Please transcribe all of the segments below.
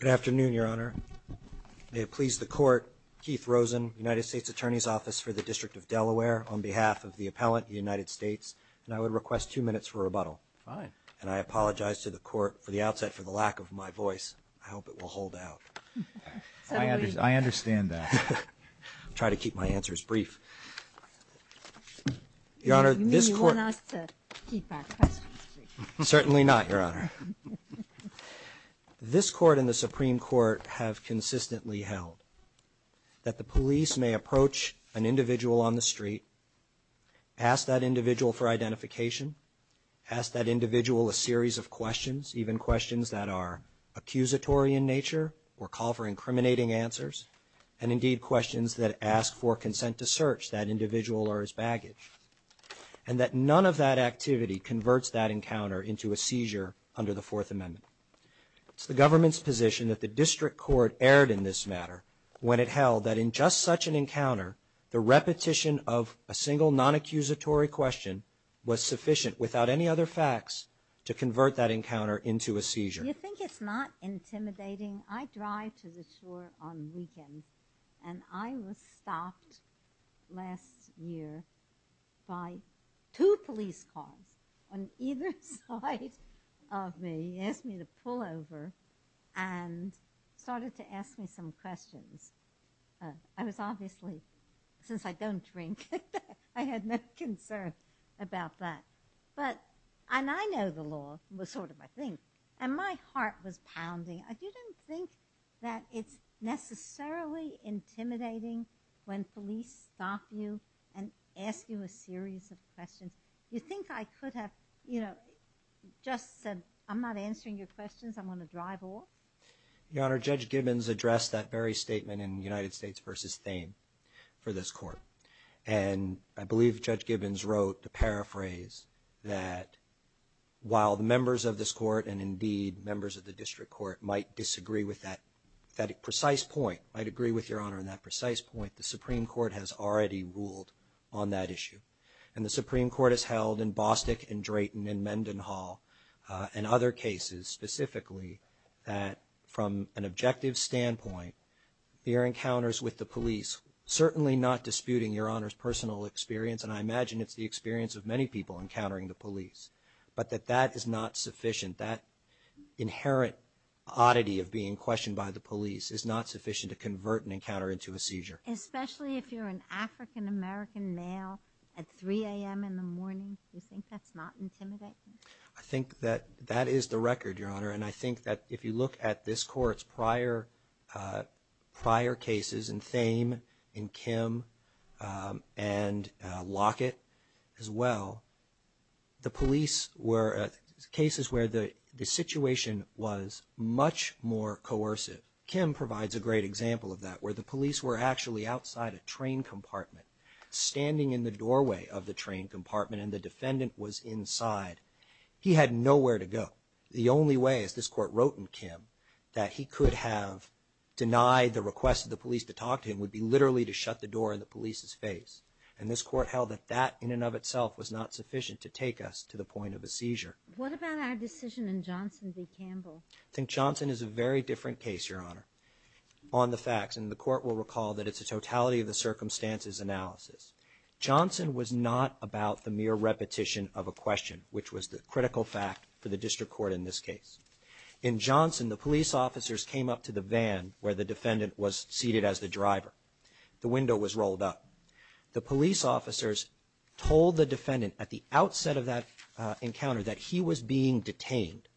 Good afternoon, Your Honor. May it please the Court, Keith Rosen, United States Attorney's Office for the District of Delaware, on behalf of the Appellant, the United States, and I would request two minutes for rebuttal. And I apologize to the Court for the outset for the lack of my voice. I hope it will hold out. I understand that. I'll try to keep my answers brief. You mean you want us to keep our questions brief? Certainly not, Your Honor. This Court and the Supreme Court have consistently held that the police may approach an individual on the street, ask that individual for identification, ask that individual a series of questions, even questions that are accusatory in nature or call for incriminating answers, and indeed questions that ask for consent to search that individual or his baggage, and that none of that activity converts that encounter into a seizure under the Fourth Amendment. It's the government's position that the district court erred in this matter when it held that in just such an encounter, the repetition of a single non-accusatory question was sufficient without any other facts to convert that encounter into a seizure. You think it's not intimidating? I drive to the shore on weekends, and I was stopped last year by two police cars on either side of me. They asked me to pull over and started to ask me some questions. I was obviously, since I don't drink, I had no concern about that. But, and I know the law was sort of my thing, and my heart was pounding. You don't think that it's necessarily intimidating when police stop you and ask you a series of questions? You think I could have, you know, just said, I'm not answering your questions, I'm going to drive off? Your Honor, Judge Gibbons addressed that very statement in United States v. Thame for this Court. And I believe Judge Gibbons wrote to paraphrase that while the members of this Court and, indeed, members of the district court might disagree with that precise point, might agree with Your Honor on that precise point, the Supreme Court has already ruled on that issue. And the Supreme Court has held in Bostick and Drayton and Mendenhall and other cases specifically, that from an objective standpoint, your encounters with the police, certainly not disputing Your Honor's personal experience, and I imagine it's the experience of many people encountering the police, but that that is not sufficient. That inherent oddity of being questioned by the police is not sufficient to convert an encounter into a seizure. Especially if you're an African-American male at 3 a.m. in the morning? You think that's not intimidating? I think that that is the record, Your Honor. And I think that if you look at this Court's prior cases in Thame, in Kim, and Lockett as well, the police were cases where the situation was much more coercive. Kim provides a great example of that, where the police were actually outside a train compartment, standing in the doorway of the train compartment, and the defendant was inside. He had nowhere to go. The only way, as this Court wrote in Kim, that he could have denied the request of the police to talk to him would be literally to shut the door in the police's face. And this Court held that that in and of itself was not sufficient to take us to the point of a seizure. What about our decision in Johnson v. Campbell? I think Johnson is a very different case, Your Honor, on the facts. And the Court will recall that it's a totality-of-the-circumstances analysis. Johnson was not about the mere repetition of a question, which was the critical fact for the district court in this case. In Johnson, the police officers came up to the van where the defendant was seated as the driver. The window was rolled up. The police officers told the defendant at the outset of that encounter that he was being detained.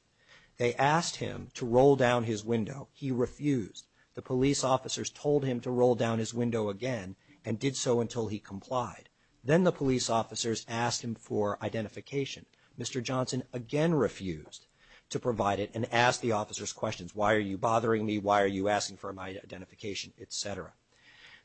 They asked him to roll down his window. He refused. The police officers told him to roll down his window again and did so until he complied. Then the police officers asked him for identification. Mr. Johnson again refused to provide it and asked the officers questions. Why are you bothering me? Why are you asking for my identification? Et cetera.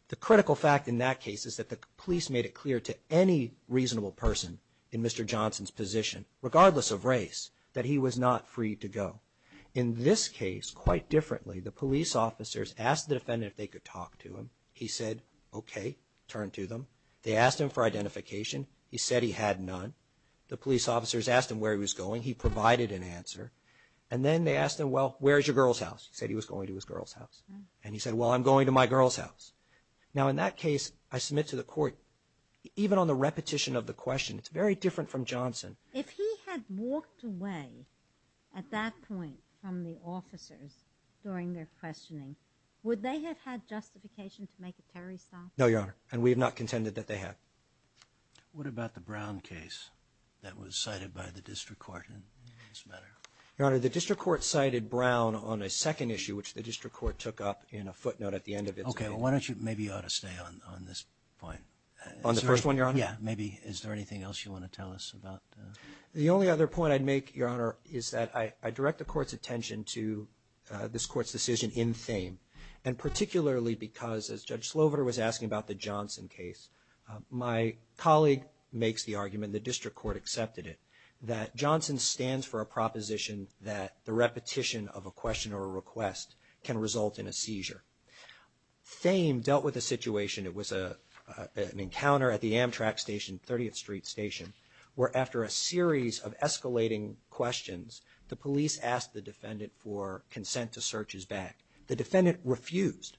The critical fact in that case is that the police made it clear to any reasonable person in Mr. Johnson's position, regardless of race, that he was not free to go. In this case, quite differently, the police officers asked the defendant if they could talk to him. He said, okay, turn to them. They asked him for identification. He said he had none. The police officers asked him where he was going. He provided an answer. And then they asked him, well, where is your girl's house? He said he was going to his girl's house. And he said, well, I'm going to my girl's house. Now, in that case, I submit to the court, even on the repetition of the question, it's very different from Johnson. If he had walked away at that point from the officers during their questioning, would they have had justification to make a Terry stop? No, Your Honor, and we have not contended that they have. What about the Brown case that was cited by the district court in this matter? Your Honor, the district court cited Brown on a second issue, which the district court took up in a footnote at the end of it. Okay, well, why don't you – maybe you ought to stay on this point. On the first one, Your Honor? Yeah, maybe. Is there anything else you want to tell us about? The only other point I'd make, Your Honor, is that I direct the court's attention to this court's decision in Thame, and particularly because, as Judge Sloverter was asking about the Johnson case, my colleague makes the argument, the district court accepted it, that Johnson stands for a proposition that the repetition of a question or a request can result in a seizure. Thame dealt with the situation. It was an encounter at the Amtrak station, 30th Street station, where after a series of escalating questions, the police asked the defendant for consent to search his bag. The defendant refused,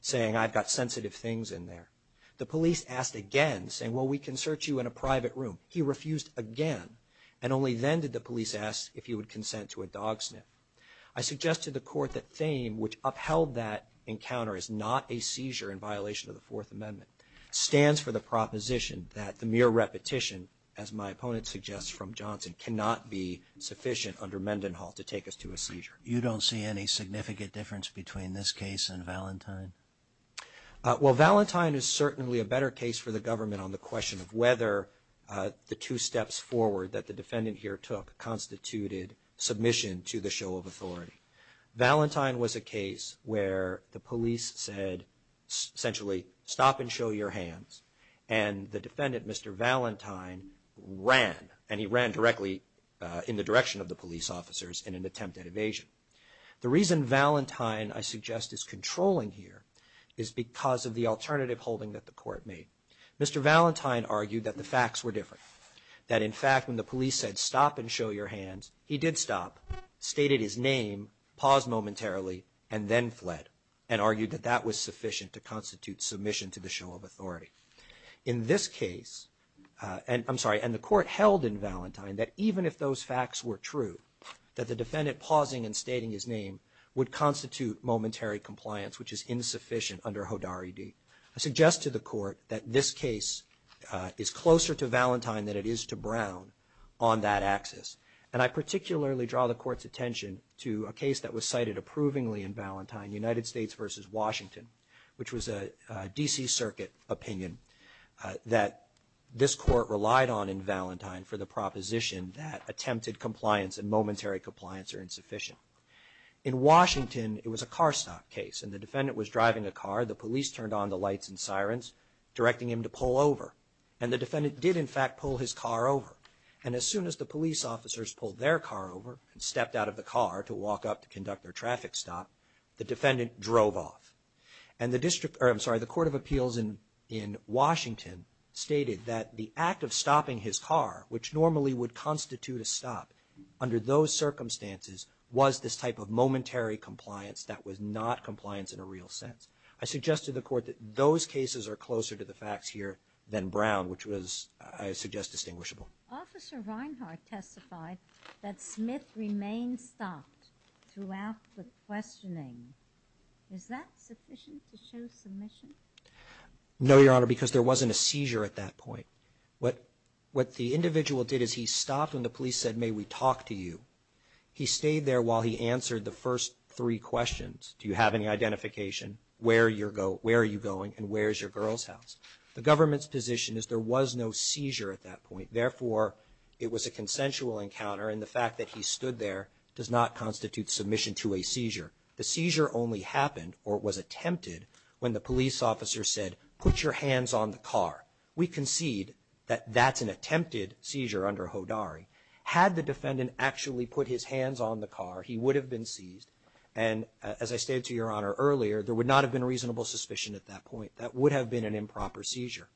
saying, I've got sensitive things in there. The police asked again, saying, well, we can search you in a private room. He refused again, and only then did the police ask if he would consent to a dog sniff. I suggest to the court that Thame, which upheld that encounter as not a seizure in violation of the Fourth Amendment, stands for the proposition that the mere repetition, as my opponent suggests, from Johnson, cannot be sufficient under Mendenhall to take us to a seizure. You don't see any significant difference between this case and Valentine? Well, Valentine is certainly a better case for the government on the question of whether the two steps forward that the defendant here took constituted submission to the show of authority. Valentine was a case where the police said, essentially, stop and show your hands, and the defendant, Mr. Valentine, ran, and he ran directly in the direction of the police officers in an attempt at evasion. The reason Valentine, I suggest, is controlling here is because of the alternative holding that the court made. Mr. Valentine argued that the facts were different, that, in fact, when the police said stop and show your hands, he did stop, stated his name, paused momentarily, and then fled, and argued that that was sufficient to constitute submission to the show of authority. In this case, I'm sorry, and the court held in Valentine that even if those facts were true, that the defendant pausing and stating his name would constitute momentary compliance, which is insufficient under Hodari D. I suggest to the court that this case is closer to Valentine than it is to Brown on that axis, and I particularly draw the court's attention to a case that was cited approvingly in Valentine, United States versus Washington, which was a D.C. Circuit opinion that this court relied on in Valentine for the proposition that attempted compliance and momentary compliance are insufficient. In Washington, it was a car stop case, and the defendant was driving a car. The police turned on the lights and sirens directing him to pull over, and the defendant did, in fact, pull his car over, and as soon as the police officers pulled their car over and stepped out of the car to walk up to conduct their traffic stop, the defendant drove off, and the district, or I'm sorry, the Court of Appeals in Washington stated that the act of stopping his car, which normally would constitute a stop under those circumstances, was this type of momentary compliance that was not compliance in a real sense. I suggest to the court that those cases are closer to the facts here than Brown, which was, I suggest, distinguishable. Officer Reinhart testified that Smith remained stopped throughout the questioning. Is that sufficient to show submission? No, Your Honor, because there wasn't a seizure at that point. What the individual did is he stopped when the police said, may we talk to you. He stayed there while he answered the first three questions. Do you have any identification? Where are you going, and where is your girl's house? The government's position is there was no seizure at that point. Therefore, it was a consensual encounter, and the fact that he stood there does not constitute submission to a seizure. The seizure only happened or was attempted when the police officer said, put your hands on the car. We concede that that's an attempted seizure under Hodari. Had the defendant actually put his hands on the car, he would have been seized, and as I stated to Your Honor earlier, there would not have been reasonable suspicion at that point. That would have been an improper seizure.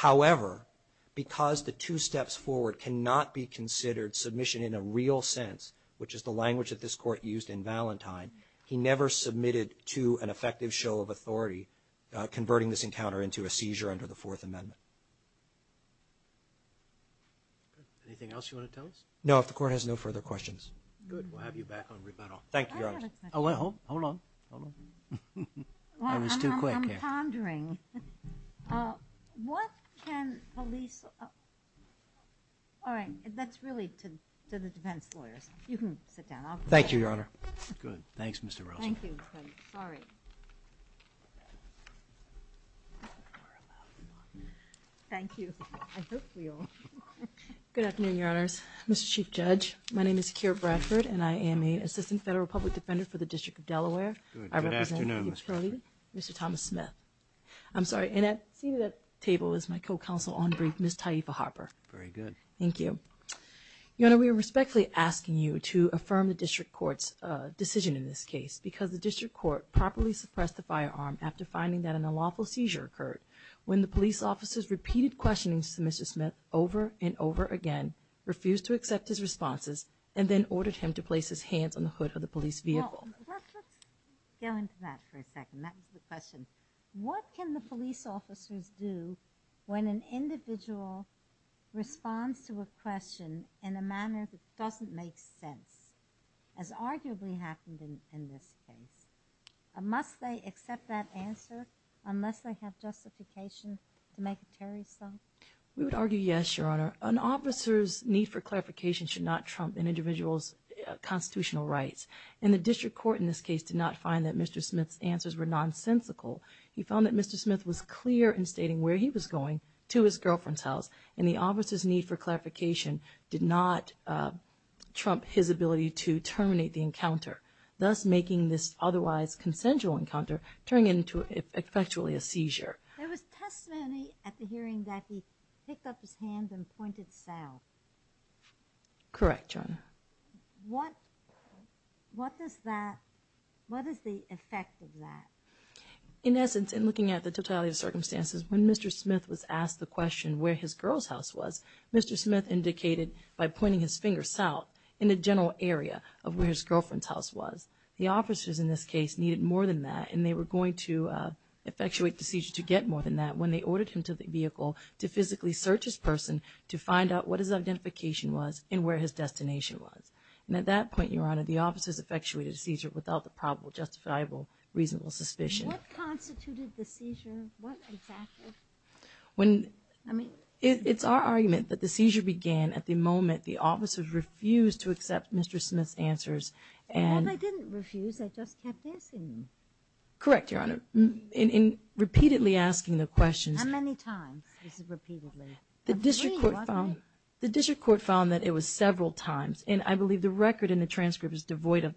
However, because the two steps forward cannot be considered submission in a real sense, which is the language that this Court used in Valentine, he never submitted to an effective show of authority converting this encounter into a seizure under the Fourth Amendment. Anything else you want to tell us? No, if the Court has no further questions. Good. We'll have you back on rebuttal. Thank you, Your Honor. Hold on. Hold on. I was too quick. I'm pondering. What can police, all right, that's really to the defense lawyers. You can sit down. Thank you, Your Honor. Good. Thanks, Mr. Rosen. Thank you. Sorry. Thank you. I hope we all. Good afternoon, Your Honors. Mr. Chief Judge, my name is Kira Bradford, and I am an Assistant Federal Public Defender for the District of Delaware. Good afternoon. Mr. Thomas Smith. I'm sorry. And seated at the table is my co-counsel on brief, Ms. Taifa Harper. Very good. Thank you. Your Honor, we are respectfully asking you to affirm the District Court's decision in this case because the District Court properly suppressed the firearm after finding that an unlawful seizure occurred when the police officers repeated questionings to Mr. Smith over and over again, refused to accept his responses, and then ordered him to place his hands on the hood of the police vehicle. Well, let's go into that for a second. That was the question. What can the police officers do when an individual responds to a question in a manner that doesn't make sense, as arguably happened in this case? Must they accept that answer unless they have justification to make a terrorist act? We would argue yes, Your Honor. An officer's need for clarification should not trump an individual's constitutional rights, and the District Court in this case did not find that Mr. Smith's answers were nonsensical. He found that Mr. Smith was clear in stating where he was going to his girlfriend's house, and the officer's need for clarification did not trump his ability to terminate the encounter, thus making this otherwise consensual encounter turn into effectually a seizure. There was testimony at the hearing that he picked up his hand and pointed south. Correct, Your Honor. What is the effect of that? In essence, in looking at the totality of the circumstances, when Mr. Smith was asked the question where his girl's house was, Mr. Smith indicated by pointing his finger south in the general area of where his girlfriend's house was. The officers in this case needed more than that, and they were going to effectuate the seizure to get more than that when they ordered him to the vehicle to physically search his person to find out what his identification was and where his destination was. And at that point, Your Honor, the officers effectuated a seizure without the probable, justifiable, reasonable suspicion. What constituted the seizure? What exactly? It's our argument that the seizure began at the moment the officers refused to accept Mr. Smith's answers. Well, they didn't refuse. They just kept asking. Correct, Your Honor. In repeatedly asking the questions. How many times was it repeatedly? The district court found that it was several times, and I believe the record in the transcript is devoid of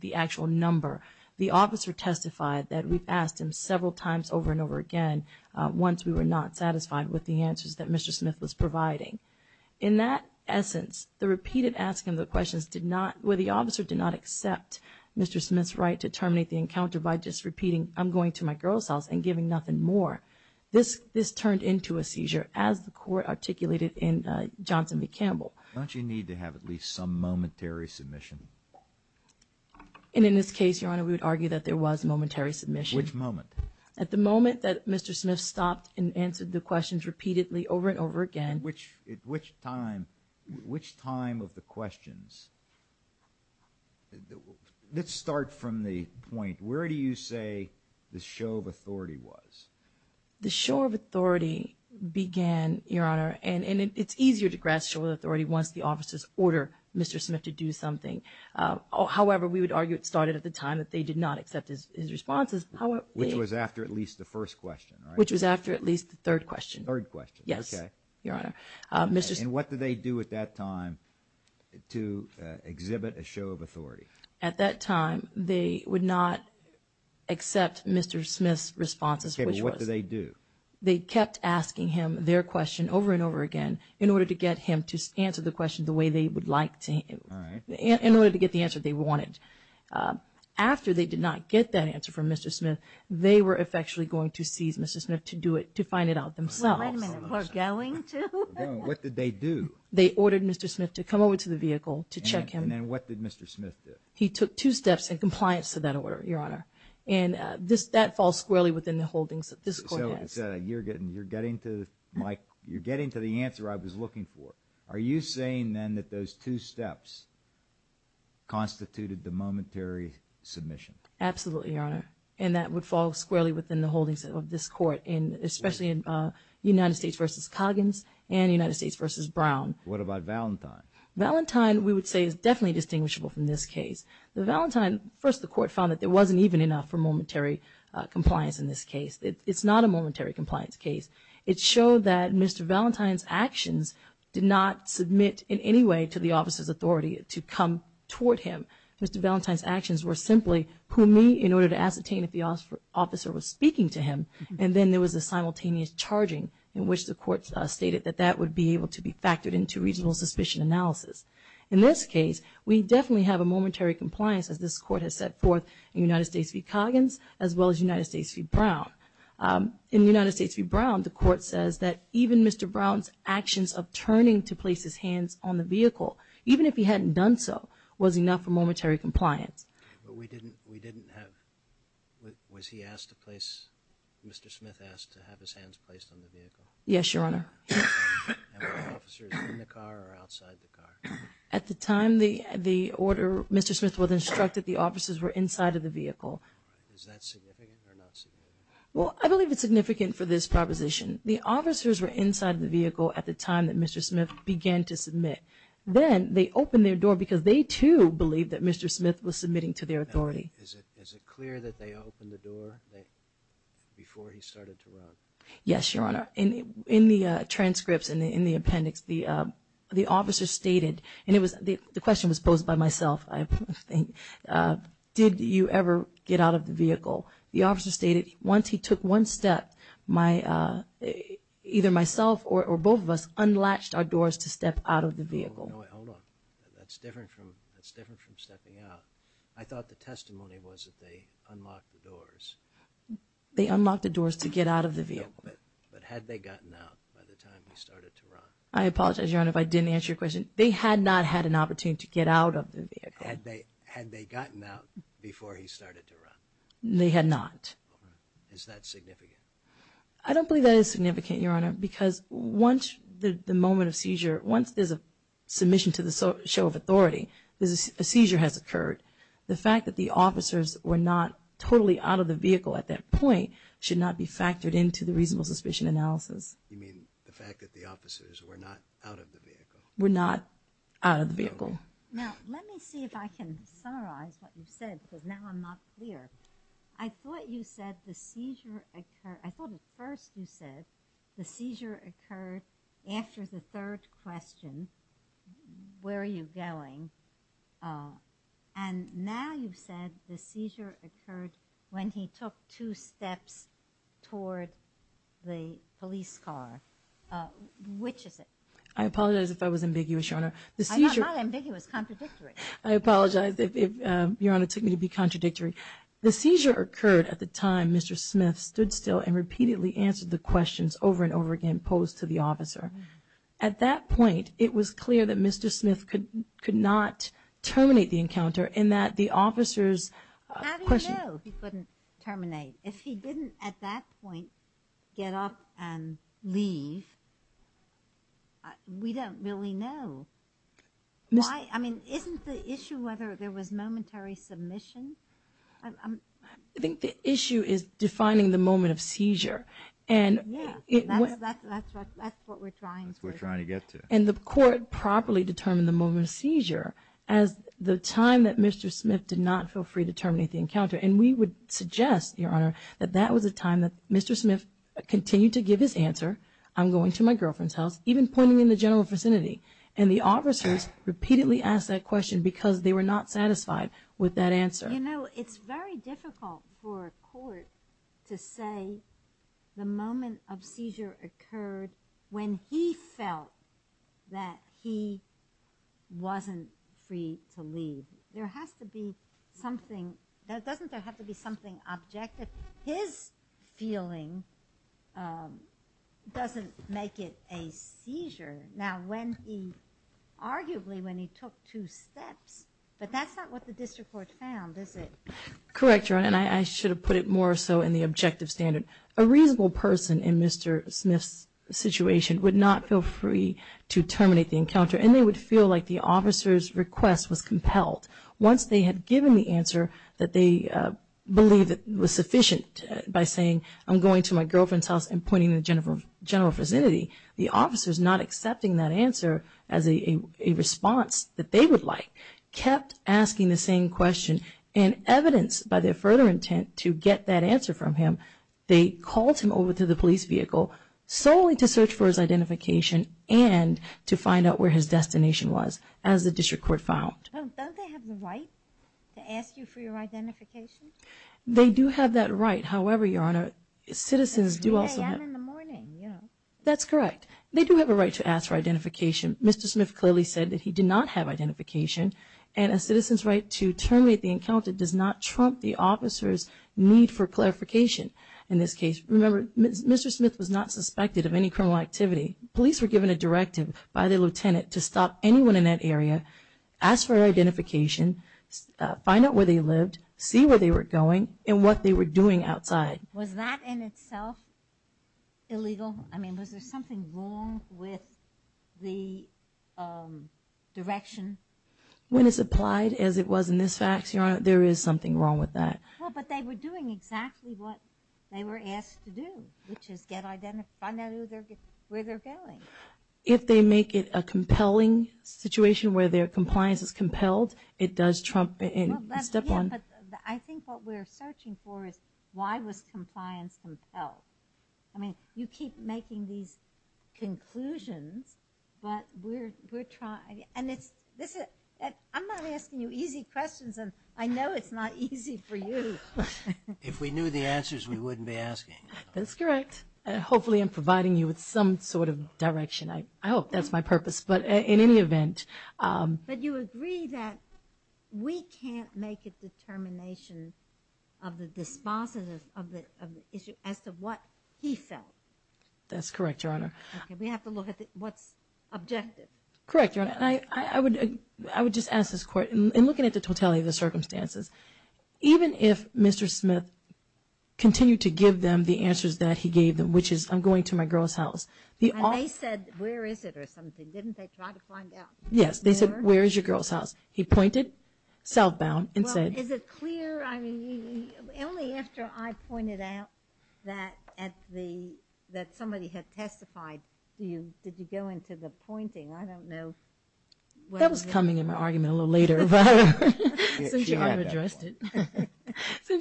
the actual number. The officer testified that we've asked him several times over and over again once we were not satisfied with the answers that Mr. Smith was providing. In that essence, the repeated asking of the questions did not, where the officer did not accept Mr. Smith's right to terminate the encounter by just repeating, I'm going to my girl's house and giving nothing more, this turned into a seizure as the court articulated in Johnson v. Campbell. Don't you need to have at least some momentary submission? And in this case, Your Honor, we would argue that there was momentary submission. Which moment? At the moment that Mr. Smith stopped and answered the questions repeatedly over and over again. Which time of the questions? Let's start from the point. Where do you say the show of authority was? The show of authority began, Your Honor, and it's easier to grasp show of authority once the officers order Mr. Smith to do something. However, we would argue it started at the time that they did not accept his responses. Which was after at least the first question, right? Which was after at least the third question. Third question, okay. Yes, Your Honor. And what did they do at that time to exhibit a show of authority? At that time, they would not accept Mr. Smith's responses. Okay, but what did they do? They kept asking him their question over and over again in order to get him to answer the question the way they would like to, in order to get the answer they wanted. After they did not get that answer from Mr. Smith, they were effectually going to seize Mr. Smith to do it, to find it out themselves. Wait a minute, were going to? What did they do? They ordered Mr. Smith to come over to the vehicle to check him. And then what did Mr. Smith do? He took two steps in compliance to that order, Your Honor. And that falls squarely within the holdings that this court has. So you're getting to the answer I was looking for. Are you saying, then, that those two steps constituted the momentary submission? Absolutely, Your Honor. And that would fall squarely within the holdings of this court, especially in United States v. Coggins and United States v. Brown. What about Valentine? Valentine, we would say, is definitely distinguishable from this case. The Valentine, first the court found that there wasn't even enough for momentary compliance in this case. It's not a momentary compliance case. It showed that Mr. Valentine's actions did not submit in any way to the officer's authority to come toward him. Mr. Valentine's actions were simply who me in order to ascertain if the officer was speaking to him. And then there was a simultaneous charging in which the court stated that that would be able to be factored into regional suspicion analysis. In this case, we definitely have a momentary compliance, as this court has set forth in United States v. Coggins, as well as United States v. Brown. In United States v. Brown, the court says that even Mr. Brown's actions of turning to place his hands on the vehicle, even if he hadn't done so, was enough for momentary compliance. But we didn't have, was he asked to place, Mr. Smith asked to have his hands placed on the vehicle? Yes, Your Honor. And were officers in the car or outside the car? At the time the order, Mr. Smith was instructed the officers were inside of the vehicle. Is that significant or not significant? Well, I believe it's significant for this proposition. The officers were inside the vehicle at the time that Mr. Smith began to submit. Then they opened their door because they, too, believed that Mr. Smith was submitting to their authority. Is it clear that they opened the door before he started to run? Yes, Your Honor. In the transcripts and in the appendix, the officer stated, and the question was posed by myself, I think, did you ever get out of the vehicle? The officer stated once he took one step, either myself or both of us unlatched our doors to step out of the vehicle. Hold on. That's different from stepping out. I thought the testimony was that they unlocked the doors. They unlocked the doors to get out of the vehicle. But had they gotten out by the time he started to run? I apologize, Your Honor, if I didn't answer your question. They had not had an opportunity to get out of the vehicle. Had they gotten out before he started to run? They had not. Is that significant? I don't believe that is significant, Your Honor, because once the moment of seizure, once there's a submission to the show of authority, a seizure has occurred, the fact that the officers were not totally out of the vehicle at that point should not be factored into the reasonable suspicion analysis. You mean the fact that the officers were not out of the vehicle? Were not out of the vehicle. Now, let me see if I can summarize what you've said because now I'm not clear. I thought you said the seizure occurred. I thought at first you said the seizure occurred after the third question, where are you going? And now you've said the seizure occurred when he took two steps toward the police car. I apologize if I was ambiguous, Your Honor. I'm not ambiguous. Contradictory. I apologize if, Your Honor, it took me to be contradictory. The seizure occurred at the time Mr. Smith stood still and repeatedly answered the questions over and over again posed to the officer. At that point, it was clear that Mr. Smith could not terminate the encounter and that the officer's question – How do you know he couldn't terminate? If he didn't at that point get up and leave, we don't really know. I mean, isn't the issue whether there was momentary submission? I think the issue is defining the moment of seizure. Yeah, that's what we're trying to do. That's what we're trying to get to. And the court properly determined the moment of seizure as the time that Mr. Smith did not feel free to terminate the encounter. And we would suggest, Your Honor, that that was a time that Mr. Smith continued to give his answer, I'm going to my girlfriend's house, even pointing in the general vicinity. And the officers repeatedly asked that question because they were not satisfied with that answer. You know, it's very difficult for a court to say the moment of seizure occurred when he felt that he wasn't free to leave. There has to be something – doesn't there have to be something objective? His feeling doesn't make it a seizure. Now, when he – arguably when he took two steps, but that's not what the district court found, is it? Correct, Your Honor, and I should have put it more so in the objective standard. A reasonable person in Mr. Smith's situation would not feel free to terminate the encounter, and they would feel like the officer's request was compelled. Once they had given the answer that they believed was sufficient by saying, I'm going to my girlfriend's house and pointing in the general vicinity, the officers not accepting that answer as a response that they would like kept asking the same question. And evidenced by their further intent to get that answer from him, they called him over to the police vehicle solely to search for his identification and to find out where his destination was, as the district court found. Don't they have the right to ask you for your identification? They do have that right. However, Your Honor, citizens do also have – It's 3 a.m. in the morning, you know. That's correct. They do have a right to ask for identification. Mr. Smith clearly said that he did not have identification, and a citizen's right to terminate the encounter does not trump the officer's need for clarification in this case. Remember, Mr. Smith was not suspected of any criminal activity. Police were given a directive by the lieutenant to stop anyone in that area, ask for identification, find out where they lived, see where they were going, and what they were doing outside. Was that in itself illegal? I mean, was there something wrong with the direction? When it's applied as it was in this fax, Your Honor, there is something wrong with that. Well, but they were doing exactly what they were asked to do, which is get identification, find out where they're going. If they make it a compelling situation where their compliance is compelled, it does trump and step on – Yeah, but I think what we're searching for is why was compliance compelled? I mean, you keep making these conclusions, but we're trying – and I'm not asking you easy questions, and I know it's not easy for you. If we knew the answers, we wouldn't be asking. That's correct. Hopefully I'm providing you with some sort of direction. I hope that's my purpose, but in any event – But you agree that we can't make a determination of the dispositive of the issue as to what he felt. That's correct, Your Honor. We have to look at what's objective. Correct, Your Honor. I would just ask this court, in looking at the totality of the circumstances, even if Mr. Smith continued to give them the answers that he gave them, which is, I'm going to my girl's house. And they said, where is it, or something. Didn't they try to find out? Yes, they said, where is your girl's house? He pointed southbound and said – Well, is it clear? I mean, only after I pointed out that somebody had testified, did you go into the pointing. I don't know whether – That was coming in my argument a little later. Since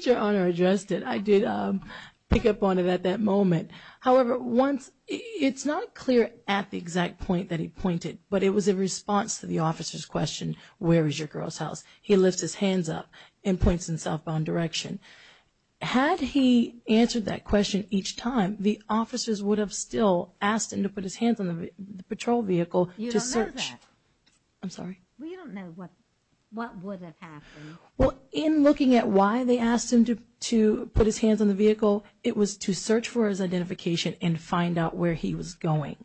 Your Honor addressed it, I did pick up on it at that moment. However, it's not clear at the exact point that he pointed, but it was a response to the officer's question, where is your girl's house? He lifts his hands up and points in a southbound direction. Had he answered that question each time, the officers would have still asked him to put his hands on the patrol vehicle to search – You don't know that. I'm sorry? We don't know what would have happened. Well, in looking at why they asked him to put his hands on the vehicle, it was to search for his identification and find out where he was going.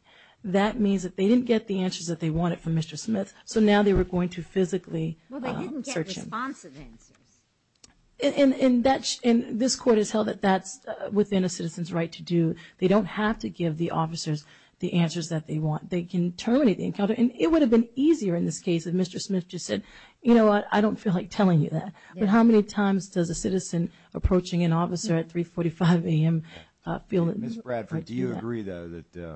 That means that they didn't get the answers that they wanted from Mr. Smith, so now they were going to physically search him. Well, they didn't get responsive answers. And this Court has held that that's within a citizen's right to do. They don't have to give the officers the answers that they want. They can terminate the encounter. And it would have been easier in this case if Mr. Smith just said, you know what, I don't feel like telling you that. But how many times does a citizen approaching an officer at 3.45 a.m. feel that they have to do that? Ms. Bradford, do you agree, though, that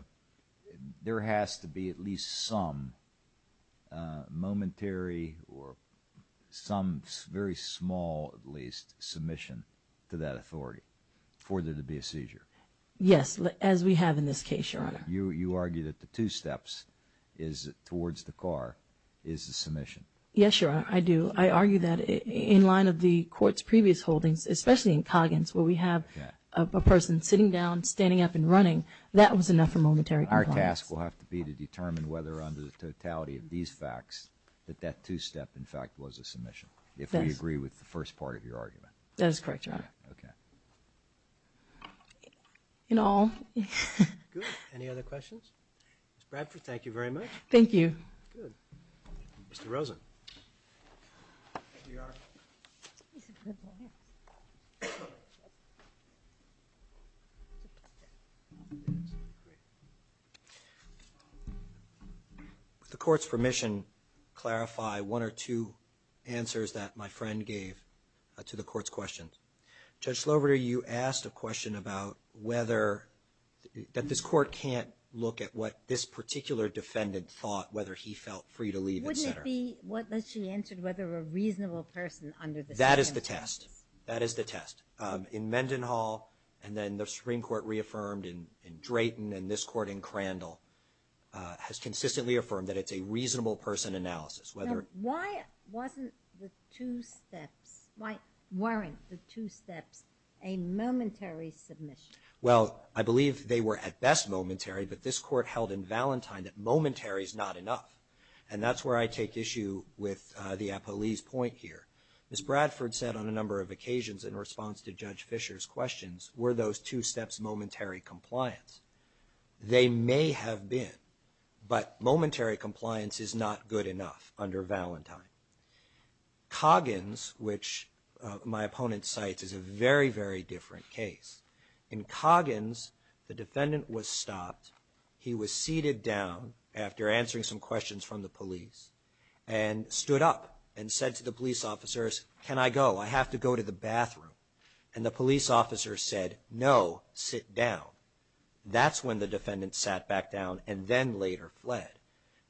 there has to be at least some momentary or some very small, at least, submission to that authority for there to be a seizure? Yes, as we have in this case, Your Honor. You argue that the two steps towards the car is the submission. Yes, Your Honor, I do. I argue that in line of the Court's previous holdings, especially in Coggins where we have a person sitting down, standing up and running, that was enough for momentary compliance. Our task will have to be to determine whether under the totality of these facts that that two step, in fact, was a submission, if we agree with the first part of your argument. That is correct, Your Honor. Okay. In all. Good. Any other questions? Ms. Bradford, thank you very much. Thank you. Good. Mr. Rosen. Would the Court's permission clarify one or two answers that my friend gave to the Court's questions? Judge Slover, you asked a question about whether, that this Court can't look at what this particular defendant thought, whether he felt free to leave, et cetera. Wouldn't it be, what she answered, whether a reasonable person under the second case? That is the test. That is the test. In Mendenhall and then the Supreme Court reaffirmed in Drayton and this Court in Crandall has consistently affirmed that it's a reasonable person analysis. Now, why wasn't the two steps, why weren't the two steps a momentary submission? Well, I believe they were at best momentary, but this Court held in Valentine that momentary is not enough. And that's where I take issue with the appellee's point here. Ms. Bradford said on a number of occasions in response to Judge Fisher's questions, were those two steps momentary compliance? They may have been, but momentary compliance is not good enough. Under Valentine. Coggins, which my opponent cites, is a very, very different case. In Coggins, the defendant was stopped. He was seated down after answering some questions from the police and stood up and said to the police officers, can I go? I have to go to the bathroom. And the police officer said, no, sit down. That's when the defendant sat back down and then later fled.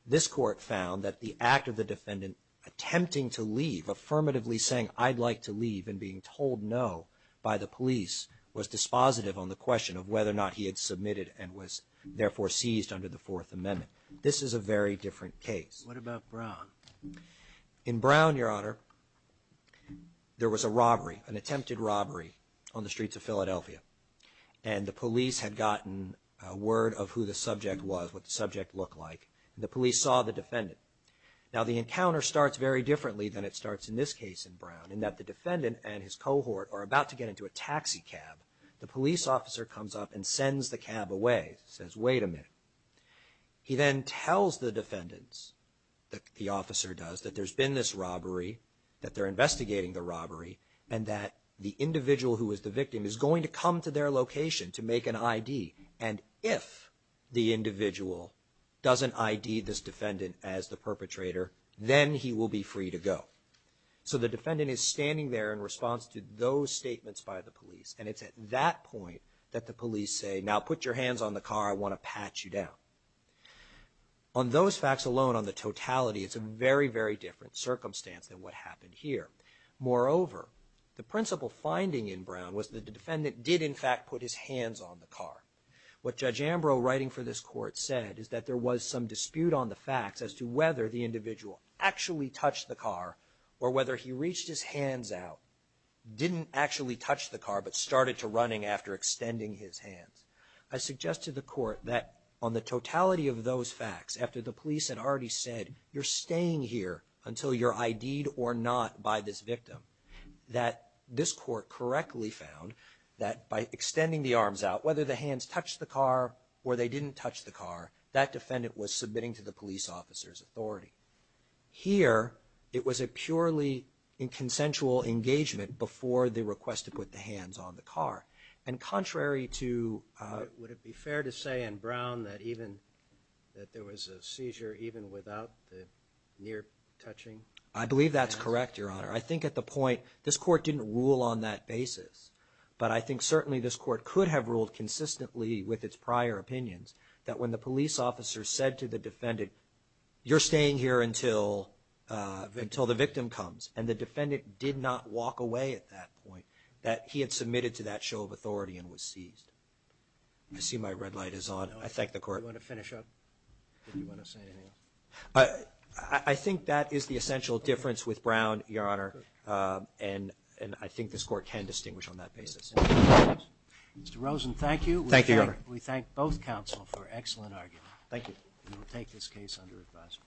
This Court found that the act of the defendant attempting to leave, affirmatively saying I'd like to leave and being told no by the police, was dispositive on the question of whether or not he had submitted and was therefore seized under the Fourth Amendment. This is a very different case. What about Brown? In Brown, Your Honor, there was a robbery, an attempted robbery on the streets of Philadelphia. And the police had gotten word of who the subject was, what the subject looked like, and the police saw the defendant. Now the encounter starts very differently than it starts in this case in Brown in that the defendant and his cohort are about to get into a taxi cab. The police officer comes up and sends the cab away. He says, wait a minute. He then tells the defendants, the officer does, that there's been this robbery, that they're investigating the robbery, and that the individual who was the victim is going to come to their location to make an I.D. And if the individual doesn't I.D. this defendant as the perpetrator, then he will be free to go. So the defendant is standing there in response to those statements by the police, and it's at that point that the police say, now put your hands on the car. I want to pat you down. On those facts alone, on the totality, it's a very, very different circumstance than what happened here. Moreover, the principal finding in Brown was that the defendant did, in fact, put his hands on the car. What Judge Ambrose writing for this court said is that there was some dispute on the facts as to whether the individual actually touched the car or whether he reached his hands out, didn't actually touch the car, but started to running after extending his hands. I suggest to the court that on the totality of those facts, after the police had already said, you're staying here until you're I.D.'d or not by this victim, that this court correctly found that by extending the arms out, whether the hands touched the car or they didn't touch the car, that defendant was submitting to the police officer's authority. Here, it was a purely inconsensual engagement before the request to put the hands on the car. And contrary to... Would it be fair to say in Brown that even, that there was a seizure even without the near touching? I believe that's correct, Your Honor. I think at the point, this court didn't rule on that basis, but I think certainly this court could have ruled consistently with its prior opinions that when the police officer said to the defendant, you're staying here until the victim comes, and the defendant did not walk away at that point, that he had submitted to that show of authority and was seized. I see my red light is on. I thank the court. Do you want to finish up? Do you want to say anything else? I think that is the essential difference with Brown, Your Honor, and I think this court can distinguish on that basis. Mr. Rosen, thank you. Thank you, Your Honor. We thank both counsel for an excellent argument. Thank you. We will take this case under advisory.